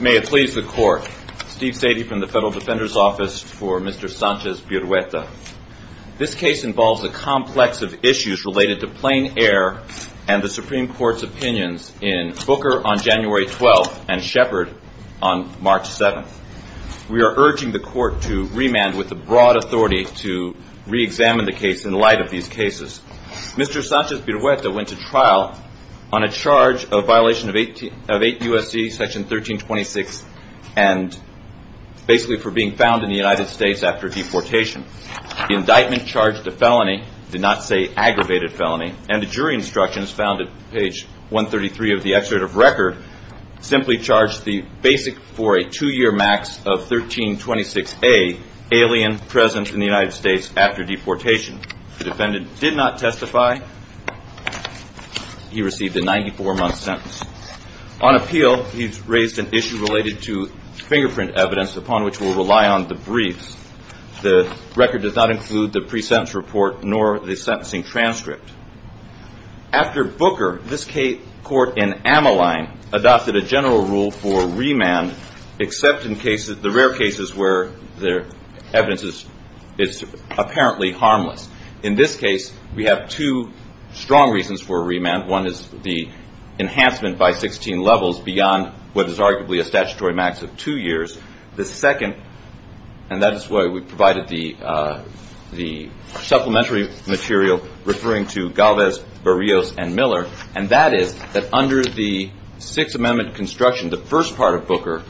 May it please the Court, Steve Sadie from the Federal Defender's Office for Mr. Sanchez-Birruetta. This case involves a complex of issues related to plain air and the Supreme Court's opinions in Booker on January 12th and Shepard on March 7th. We are urging the Court to remand with the broad authority to reexamine the case in light of these cases. Mr. Sanchez-Birruetta went to trial on a charge of violation of 8 U.S.C. section 1326 and basically for being found in the United States after deportation. The indictment charged a felony, did not say aggravated felony, and the jury instructions found at page 133 of the excerpt of record simply charged the basic for a two-year max of 1326A, alien presence in the United States after deportation. The defendant did not testify. He received a 94-month sentence. On appeal, he's raised an issue related to fingerprint evidence upon which we'll rely on the briefs. The record does not include the pre-sentence report nor the sentencing transcript. After Booker, this court in Ammaline adopted a general rule for remand except in the rare cases where the evidence is apparently harmless. In this case, we have two strong reasons for remand. One is the enhancement by 16 levels beyond what is arguably a statutory max of two years. The second, and that is why we provided the supplementary material referring to Galvez, Barrios, and Miller, and that is that under the Sixth Amendment construction, the first part of Booker,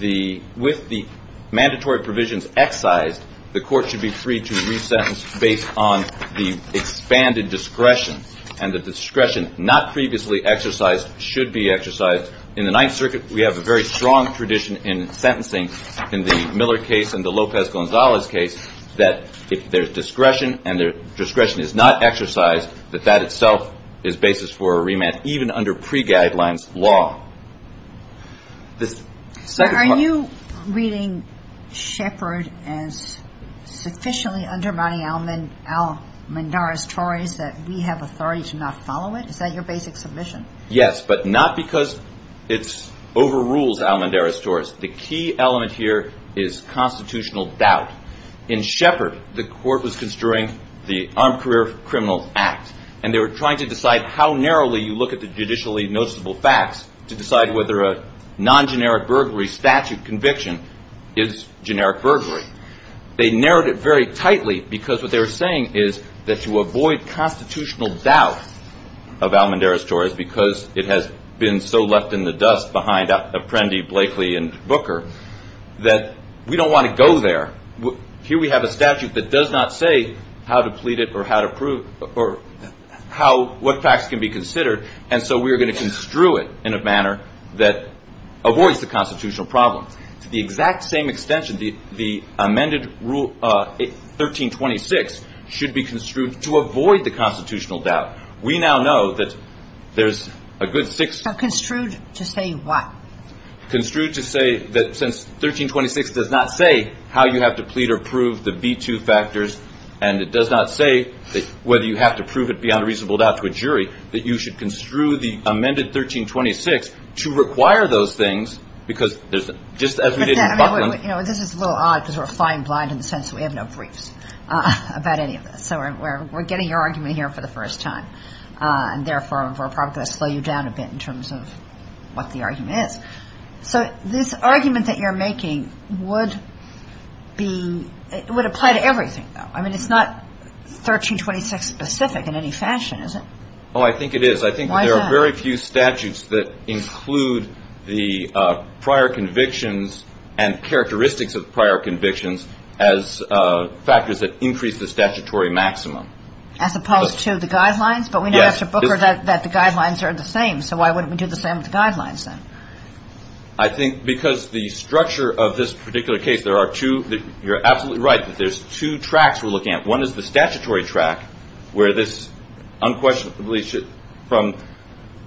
with the mandatory provisions excised, the court should be free to re-sentence based on the expanded discretion, and the discretion not previously exercised should be exercised. In the Ninth Circuit, we have a very strong tradition in sentencing in the Miller case and the Lopez-Gonzalez case that if there's discretion and the discretion is not exercised, that that itself is basis for a remand, even under pre-guidelines law. This second part... Are you reading Shepard as sufficiently undermining Al-Mandara's choice that we have authority to not follow it? Is that your basic submission? Yes, but not because it overrules Al-Mandara's choice. The key element here is constitutional doubt. In Shepard, the court was construing the Armed Career Criminals Act, and they were trying to decide how narrowly you look at the judicially noticeable facts to decide whether a non-generic burglary statute conviction is generic burglary. They narrowed it very tightly because what they were saying is that to avoid constitutional doubt of Al-Mandara's choice because it has been so left in the dust behind Apprendi, Blakely, and Booker, that we don't want to go there. Here we have a statute that does not say how to plead it or what facts can be considered, and so we are going to construe it in a manner that avoids the constitutional problem. It's the exact same extension. The amended Rule 1326 should be construed to avoid the constitutional doubt. We now know that there's a good six. So construed to say what? Construed to say that since 1326 does not say how you have to plead or prove the B-2 factors and it does not say whether you have to prove it beyond a reasonable doubt to a jury, that you should construe the amended 1326 to require those things because there's just as we did in Buckland. This is a little odd because we're flying blind in the sense that we have no briefs about any of this. So we're getting your argument here for the first time, and therefore we're probably going to slow you down a bit in terms of what the argument is. So this argument that you're making would be – would apply to everything, though. I mean, it's not 1326-specific in any fashion, is it? Oh, I think it is. Why is that? I think there are very few statutes that include the prior convictions and characteristics of prior convictions as factors that increase the statutory maximum. As opposed to the guidelines? Yes. But we know after Booker that the guidelines are the same. So why wouldn't we do the same with the guidelines, then? I think because the structure of this particular case, there are two – you're absolutely right. There's two tracks we're looking at. One is the statutory track where this unquestionably should – from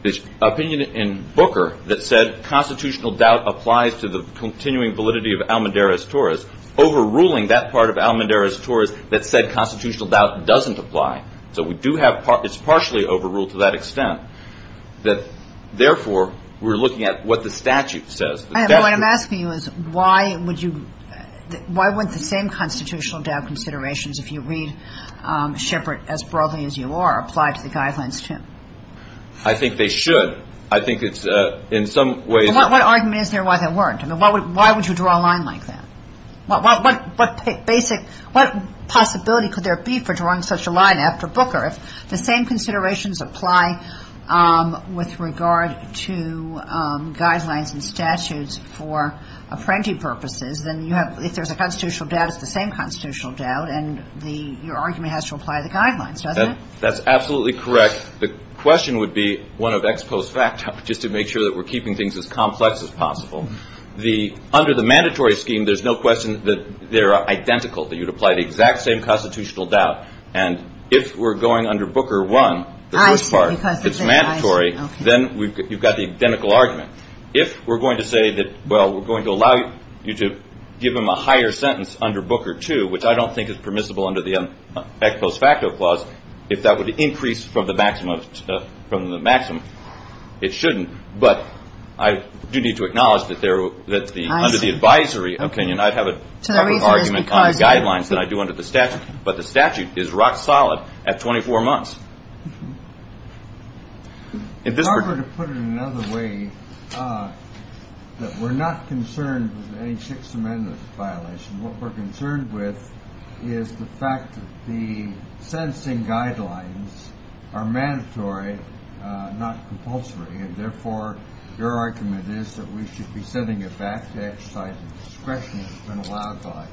the opinion in Booker that said constitutional doubt applies to the continuing validity of Almendarez-Torres, overruling that part of Almendarez-Torres that said constitutional doubt doesn't apply. So we do have – it's partially overruled to that extent. Therefore, we're looking at what the statute says. What I'm asking you is why would you – why wouldn't the same constitutional doubt considerations, if you read Shepard as broadly as you are, apply to the guidelines, too? I think they should. I think it's in some ways – Well, what argument is there why they weren't? I mean, why would you draw a line like that? What basic – what possibility could there be for drawing such a line after Booker if the same considerations apply with regard to guidelines and statutes for apprentee purposes? Then you have – if there's a constitutional doubt, it's the same constitutional doubt, and the – your argument has to apply to the guidelines, doesn't it? That's absolutely correct. The question would be one of ex post facto, just to make sure that we're keeping things as complex as possible. The – under the mandatory scheme, there's no question that they're identical, that you'd apply the exact same constitutional doubt. And if we're going under Booker I, the first part, it's mandatory, then you've got the identical argument. If we're going to say that, well, we're going to allow you to give him a higher sentence under Booker II, which I don't think is permissible under the ex post facto clause, if that would increase from the maximum, it shouldn't. But I do need to acknowledge that there – that the – under the advisory opinion, I'd have a different argument on guidelines than I do under the statute. But the statute is rock solid at 24 months. If this were to put it another way, that we're not concerned with any Sixth Amendment violation. What we're concerned with is the fact that the sentencing guidelines are mandatory, not compulsory, and therefore your argument is that we should be sending it back to exercise the discretion that's been allowed by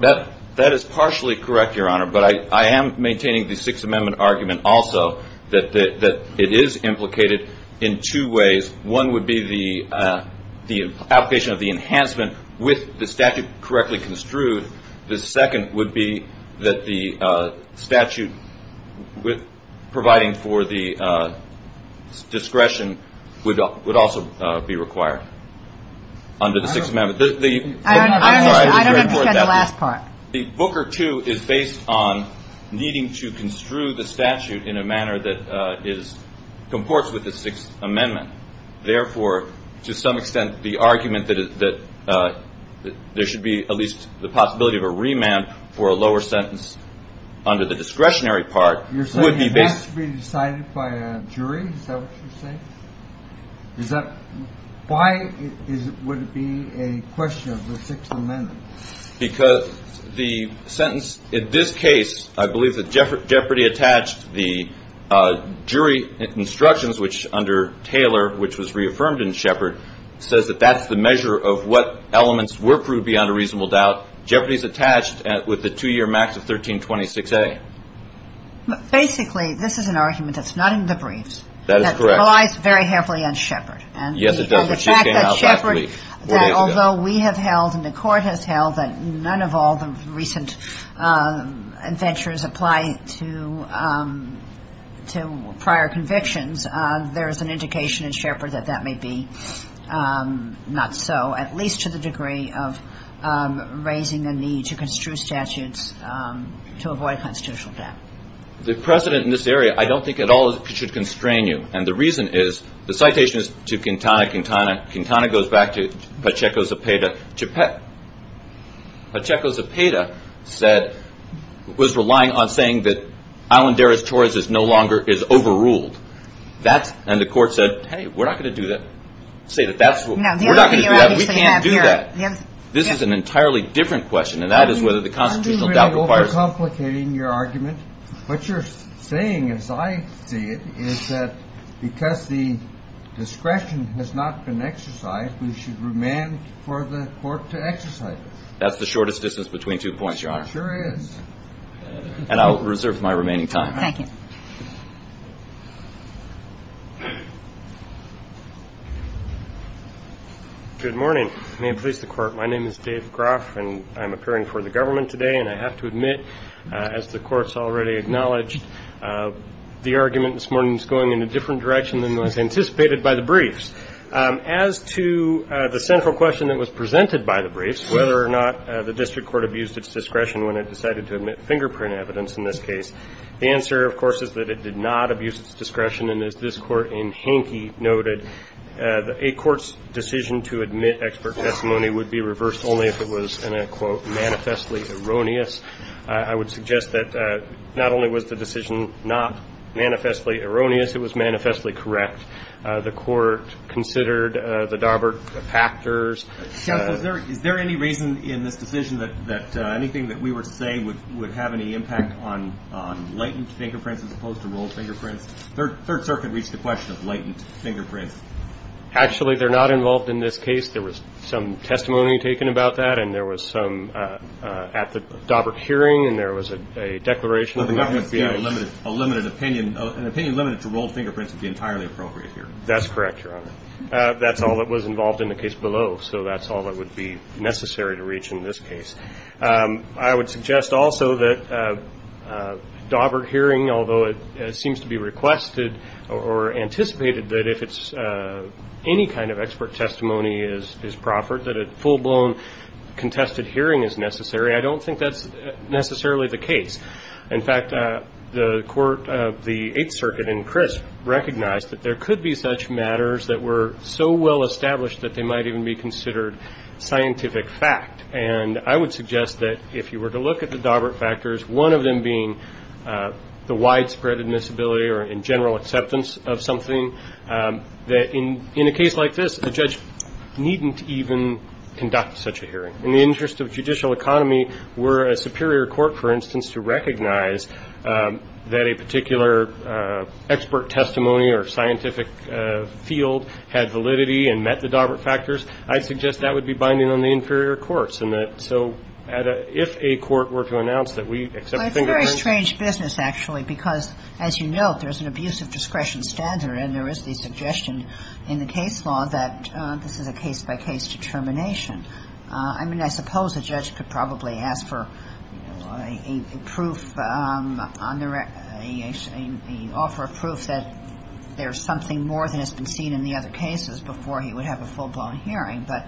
it. That is partially correct, Your Honor. But I am maintaining the Sixth Amendment argument also, that it is implicated in two ways. One would be the application of the enhancement with the statute correctly construed. The second would be that the statute providing for the discretion would also be required under the Sixth Amendment. I don't understand the last part. The Booker II is based on needing to construe the statute in a manner that is – comports with the Sixth Amendment. Therefore, to some extent, the argument that there should be at least the possibility of a remand for a lower sentence under the discretionary part would be based – You're saying it has to be decided by a jury? Is that what you're saying? Why would it be a question of the Sixth Amendment? Because the sentence in this case, I believe that Jeopardy attached the jury instructions, which under Taylor, which was reaffirmed in Shepard, says that that's the measure of what elements were proved beyond a reasonable doubt. Jeopardy is attached with the two-year max of 1326A. Basically, this is an argument that's not in the briefs. That is correct. That relies very heavily on Shepard. Yes, it does. And the fact that Shepard, that although we have held and the Court has held that none of all the recent adventures apply to prior convictions, there is an indication in Shepard that that may be not so, at least to the degree of raising the need to construe statutes to avoid constitutional debt. The precedent in this area, I don't think at all should constrain you. And the reason is the citation is to Quintana. Quintana goes back to Pacheco Zepeda. Pacheco Zepeda said – was relying on saying that Alondera's choice no longer is overruled. And the Court said, hey, we're not going to do that. We can't do that. This is an entirely different question, and that is whether the constitutional doubt requires – You're complicating your argument. What you're saying, as I see it, is that because the discretion has not been exercised, we should remand for the Court to exercise it. That's the shortest distance between two points, Your Honor. It sure is. And I'll reserve my remaining time. Thank you. Good morning. May it please the Court. My name is Dave Groff, and I'm appearing for the government today. And I have to admit, as the Court's already acknowledged, the argument this morning is going in a different direction than was anticipated by the briefs. As to the central question that was presented by the briefs, whether or not the district court abused its discretion when it decided to admit fingerprint evidence in this case, the answer, of course, is that it did not abuse its discretion. And as this Court in Hankey noted, a court's decision to admit expert testimony would be reversed only if it was, and I quote, manifestly erroneous. I would suggest that not only was the decision not manifestly erroneous, it was manifestly correct. The Court considered the Daubert factors. Counsel, is there any reason in this decision that anything that we were to say would have any impact on latent fingerprints as opposed to rolled fingerprints? Third Circuit reached the question of latent fingerprints. Actually, they're not involved in this case. There was some testimony taken about that, and there was some at the Daubert hearing, and there was a declaration that there would be a limited opinion. An opinion limited to rolled fingerprints would be entirely appropriate here. That's correct, Your Honor. That's all that was involved in the case below. So that's all that would be necessary to reach in this case. I would suggest also that Daubert hearing, although it seems to be requested or anticipated that if any kind of expert testimony is proffered, that a full-blown contested hearing is necessary, I don't think that's necessarily the case. In fact, the Court of the Eighth Circuit in Crisp recognized that there could be such matters that were so well established that they might even be considered scientific fact. And I would suggest that if you were to look at the Daubert factors, one of them being the widespread admissibility or in general acceptance of something, that in a case like this a judge needn't even conduct such a hearing. In the interest of judicial economy, were a superior court, for instance, to recognize that a particular expert testimony or scientific field had validity and met the Daubert factors, I suggest that would be binding on the inferior courts. And so if a court were to announce that we accept fingerprints. But it's a very strange business, actually, because, as you note, there's an abuse of discretion standard, and there is the suggestion in the case law that this is a case-by-case determination. I mean, I suppose a judge could probably ask for a proof on the record, an offer of proof that there's something more than has been seen in the other cases before he would have a full-blown hearing. But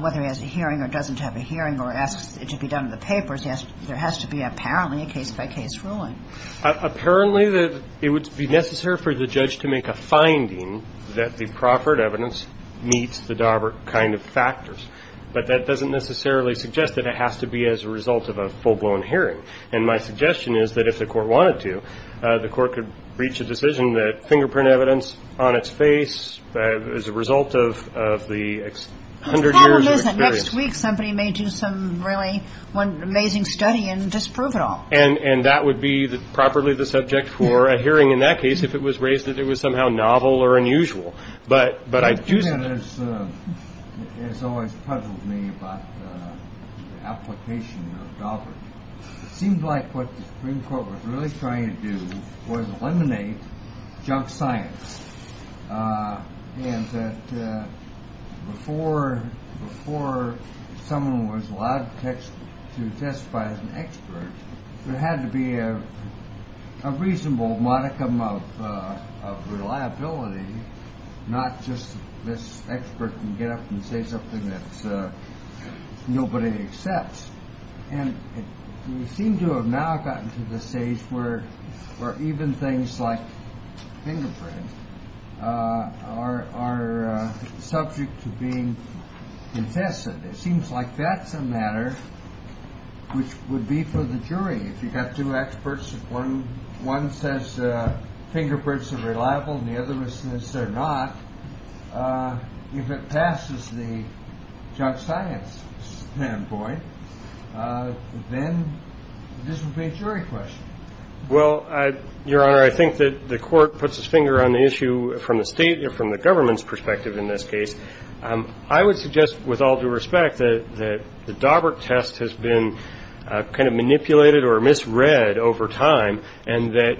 whether he has a hearing or doesn't have a hearing or asks it to be done in the papers, there has to be apparently a case-by-case ruling. Apparently, it would be necessary for the judge to make a finding that the proffered evidence meets the Daubert kind of factors. But that doesn't necessarily suggest that it has to be as a result of a full-blown hearing. And my suggestion is that if the court wanted to, the court could reach a decision that fingerprint evidence on its face is a result of the 100 years of experience. Next week, somebody may do some really amazing study and disprove it all. And that would be properly the subject for a hearing in that case if it was raised that it was somehow novel or unusual. It has always puzzled me about the application of Daubert. It seemed like what the Supreme Court was really trying to do was eliminate junk science. And that before someone was allowed to testify as an expert, there had to be a reasonable modicum of reliability, not just this expert can get up and say something that nobody accepts. And we seem to have now gotten to the stage where even things like fingerprints are subject to being infested. It seems like that's a matter which would be for the jury. If you've got two experts, one says fingerprints are reliable and the other says they're not, if it passes the junk science standpoint, then this would be a jury question. Well, Your Honor, I think that the court puts its finger on the issue from the state and from the government's perspective in this case. I would suggest with all due respect that the Daubert test has been kind of manipulated or misread over time, and that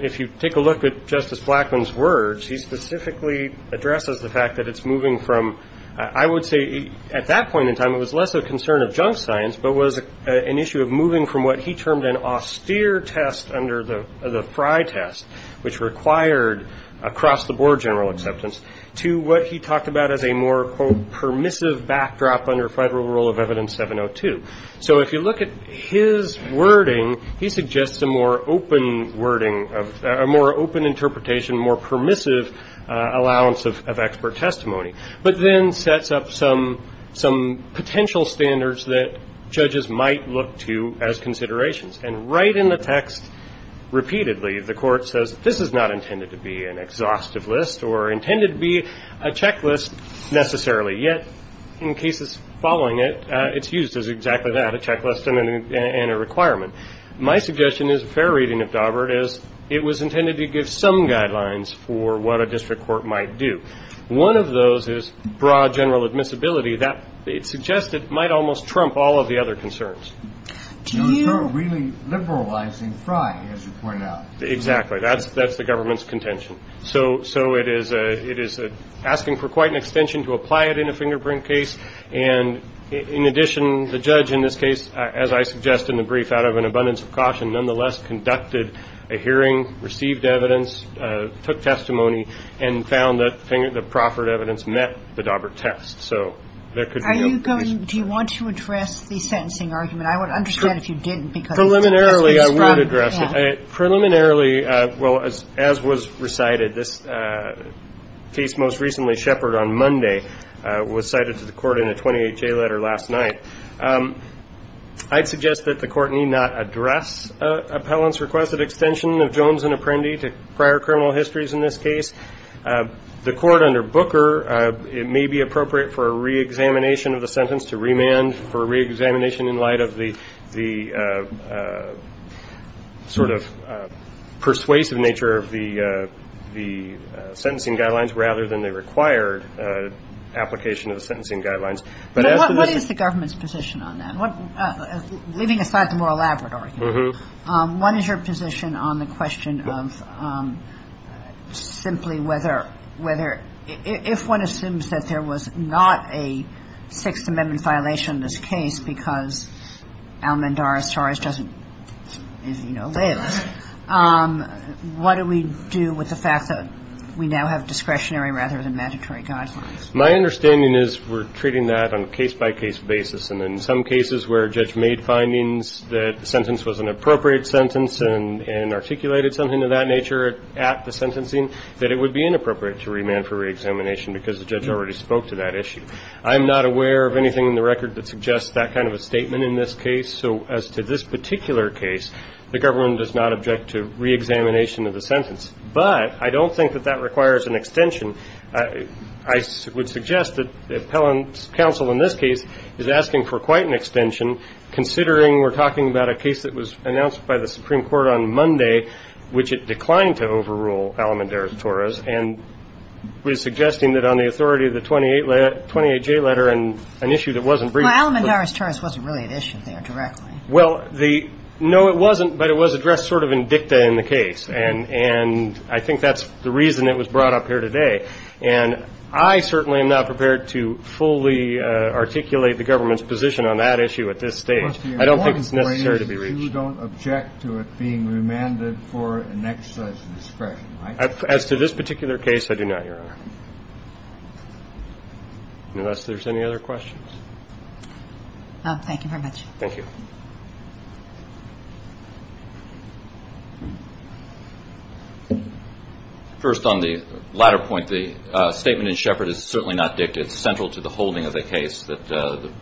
if you take a look at Justice Blackmun's words, he specifically addresses the fact that it's moving from, I would say at that point in time it was less a concern of junk science, but was an issue of moving from what he termed an austere test under the Frye test, which required across-the-board general acceptance, to what he talked about as a more, quote, permissive backdrop under federal rule of evidence 702. So if you look at his wording, he suggests a more open wording, a more open interpretation, more permissive allowance of expert testimony, but then sets up some potential standards that judges might look to as considerations. And right in the text, repeatedly, the court says, this is not intended to be an exhaustive list or intended to be a checklist necessarily. Yet in cases following it, it's used as exactly that, a checklist and a requirement. My suggestion is a fair reading of Daubert is it was intended to give some guidelines for what a district court might do. One of those is broad general admissibility. That suggested might almost trump all of the other concerns. Do you really liberalizing Frye, as you point out? Exactly. That's that's the government's contention. So. So it is a it is asking for quite an extension to apply it in a fingerprint case. And in addition, the judge in this case, as I suggest, in the brief, out of an abundance of caution, nonetheless conducted a hearing, received evidence, took testimony and found that the proffered evidence met the Daubert test. Do you want to address the sentencing argument? I would understand if you didn't. Preliminarily, I would address it. Preliminarily. Well, as as was recited, this case most recently, Shepard on Monday, was cited to the court in a 28 day letter last night. I'd suggest that the court need not address appellants requested extension of Jones and Apprendi to prior criminal histories in this case. The court under Booker, it may be appropriate for a reexamination of the sentence to remand for reexamination in light of the the sort of persuasive nature of the the sentencing guidelines rather than the required application of the sentencing guidelines. But what is the government's position on that? Leaving aside the more elaborate argument, what is your position on the question of simply whether whether if one assumes that there was not a Sixth Amendment violation in this case because Almendaras Torres doesn't, you know, live, what do we do with the fact that we now have discretionary rather than mandatory guidelines? My understanding is we're treating that on a case by case basis. And in some cases where a judge made findings that the sentence was an appropriate sentence and articulated something of that nature at the sentencing, that it would be inappropriate to remand for reexamination because the judge already spoke to that issue. I'm not aware of anything in the record that suggests that kind of a statement in this case. So as to this particular case, the government does not object to reexamination of the sentence. But I don't think that that requires an extension. And I would suggest that the appellant's counsel in this case is asking for quite an extension, considering we're talking about a case that was announced by the Supreme Court on Monday, which it declined to overrule, Almendaras Torres, and was suggesting that on the authority of the 28J letter and an issue that wasn't briefed. Well, Almendaras Torres wasn't really an issue there directly. Well, no, it wasn't, but it was addressed sort of in dicta in the case. And I think that's the reason it was brought up here today. And I certainly am not prepared to fully articulate the government's position on that issue at this stage. I don't think it's necessary to be reached. You don't object to it being remanded for an exercise of discretion. As to this particular case, I do not, Your Honor. Unless there's any other questions. Thank you very much. Thank you. First, on the latter point, the statement in Shepard is certainly not dicta. It's central to the holding of the case that the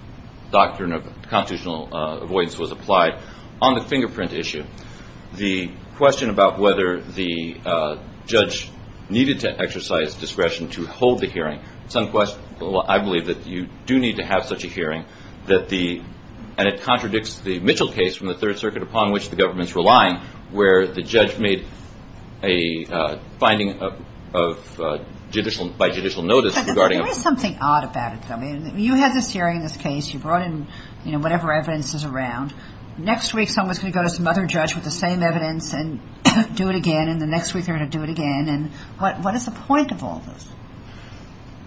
doctrine of constitutional avoidance was applied. On the fingerprint issue, the question about whether the judge needed to exercise discretion to hold the hearing, I believe that you do need to have such a hearing. And it contradicts the Mitchell case from the Third Circuit, upon which the government's relying, where the judge made a finding by judicial notice regarding a ---- But there is something odd about it, though. You had this hearing, this case. You brought in whatever evidence is around. Next week, someone's going to go to some other judge with the same evidence and do it again. And the next week, they're going to do it again. And what is the point of all this?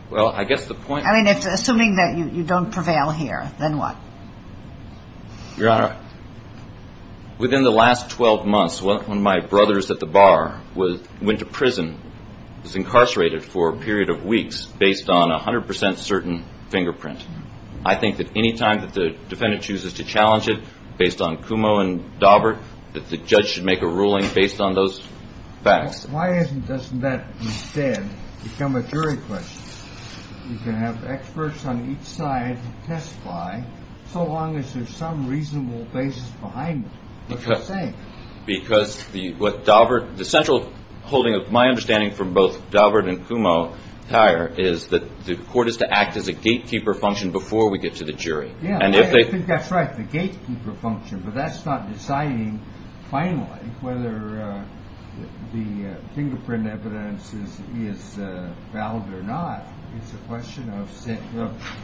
Well, I guess the point ---- I mean, assuming that you don't prevail here, then what? Your Honor, within the last 12 months, one of my brothers at the bar went to prison, was incarcerated for a period of weeks based on 100% certain fingerprint. I think that any time that the defendant chooses to challenge it based on Kumo and Daubert, that the judge should make a ruling based on those facts. Why doesn't that instead become a jury question? You can have experts on each side testify so long as there's some reasonable basis behind it. What are you saying? Because what Daubert ---- The central holding of my understanding from both Daubert and Kumo, Tyre, is that the court is to act as a gatekeeper function before we get to the jury. Yeah. I think that's right, the gatekeeper function. But that's not deciding finally whether the fingerprint evidence is valid or not. It's a question of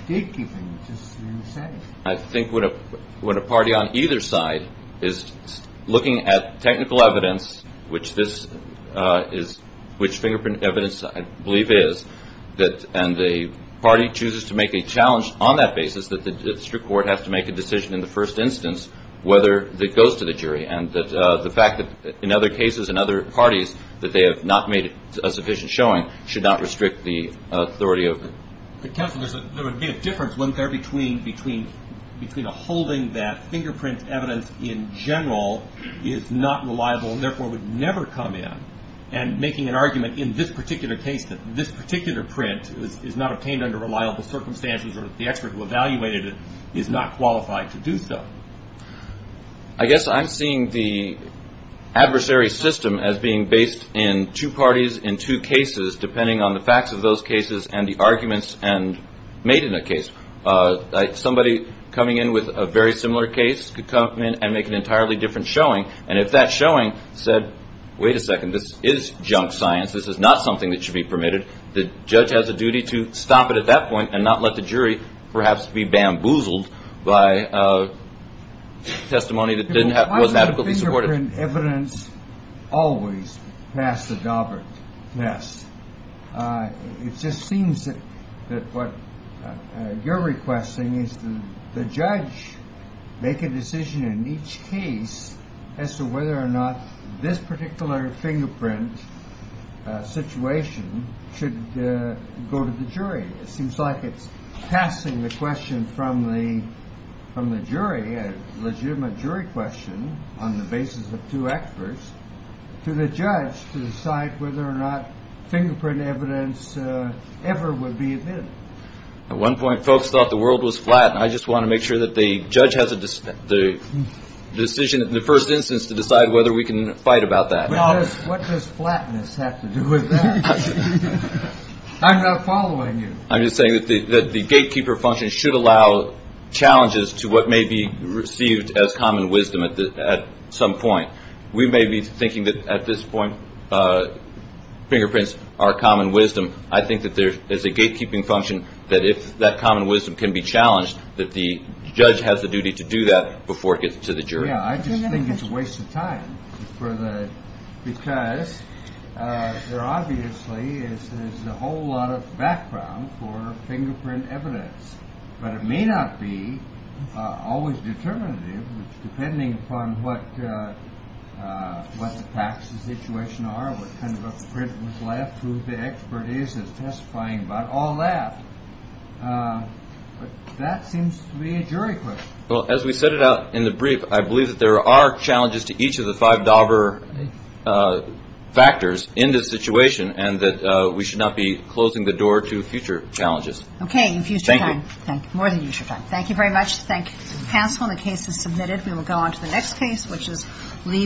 gatekeeping, just the same. I think what a party on either side is looking at technical evidence, which fingerprint evidence I believe is, and the party chooses to make a challenge on that basis, is that the district court has to make a decision in the first instance whether it goes to the jury. And the fact that in other cases and other parties that they have not made a sufficient showing should not restrict the authority of the court. But, counsel, there would be a difference, wouldn't there, between a holding that fingerprint evidence in general is not reliable and therefore would never come in and making an argument in this particular case that this particular print is not obtained under reliable circumstances or the expert who evaluated it is not qualified to do so. I guess I'm seeing the adversary system as being based in two parties in two cases, depending on the facts of those cases and the arguments made in a case. Somebody coming in with a very similar case could come in and make an entirely different showing, and if that showing said, wait a second, this is junk science, this is not something that should be permitted, the judge has a duty to stop it at that point and not let the jury perhaps be bamboozled by testimony that wasn't adequately supported. Why is the fingerprint evidence always past the dauber test? It just seems that what you're requesting is that the judge make a decision in each case as to whether or not this particular fingerprint situation should go to the jury. It seems like it's passing the question from the jury, a legitimate jury question on the basis of two experts, to the judge to decide whether or not fingerprint evidence ever would be admitted. At one point folks thought the world was flat, and I just want to make sure that the judge has the decision in the first instance to decide whether we can fight about that. What does flatness have to do with that? I'm not following you. I'm just saying that the gatekeeper function should allow challenges to what may be received as common wisdom at some point. We may be thinking that at this point fingerprints are common wisdom. I think that there's a gatekeeping function that if that common wisdom can be challenged, that the judge has the duty to do that before it gets to the jury. I just think it's a waste of time because there obviously is a whole lot of background for fingerprint evidence, but it may not be always determinative depending upon what the facts of the situation are, what kind of a fingerprint was left, who the expert is testifying about, all that. But that seems to be a jury question. Well, as we set it out in the brief, I believe that there are challenges to each of the five dauber factors in this situation and that we should not be closing the door to future challenges. Okay, you've used your time. Thank you. More than used your time. Thank you very much. Thank you, counsel, and the case is submitted. We will go on to the next case, which is Lee v. Chernyak.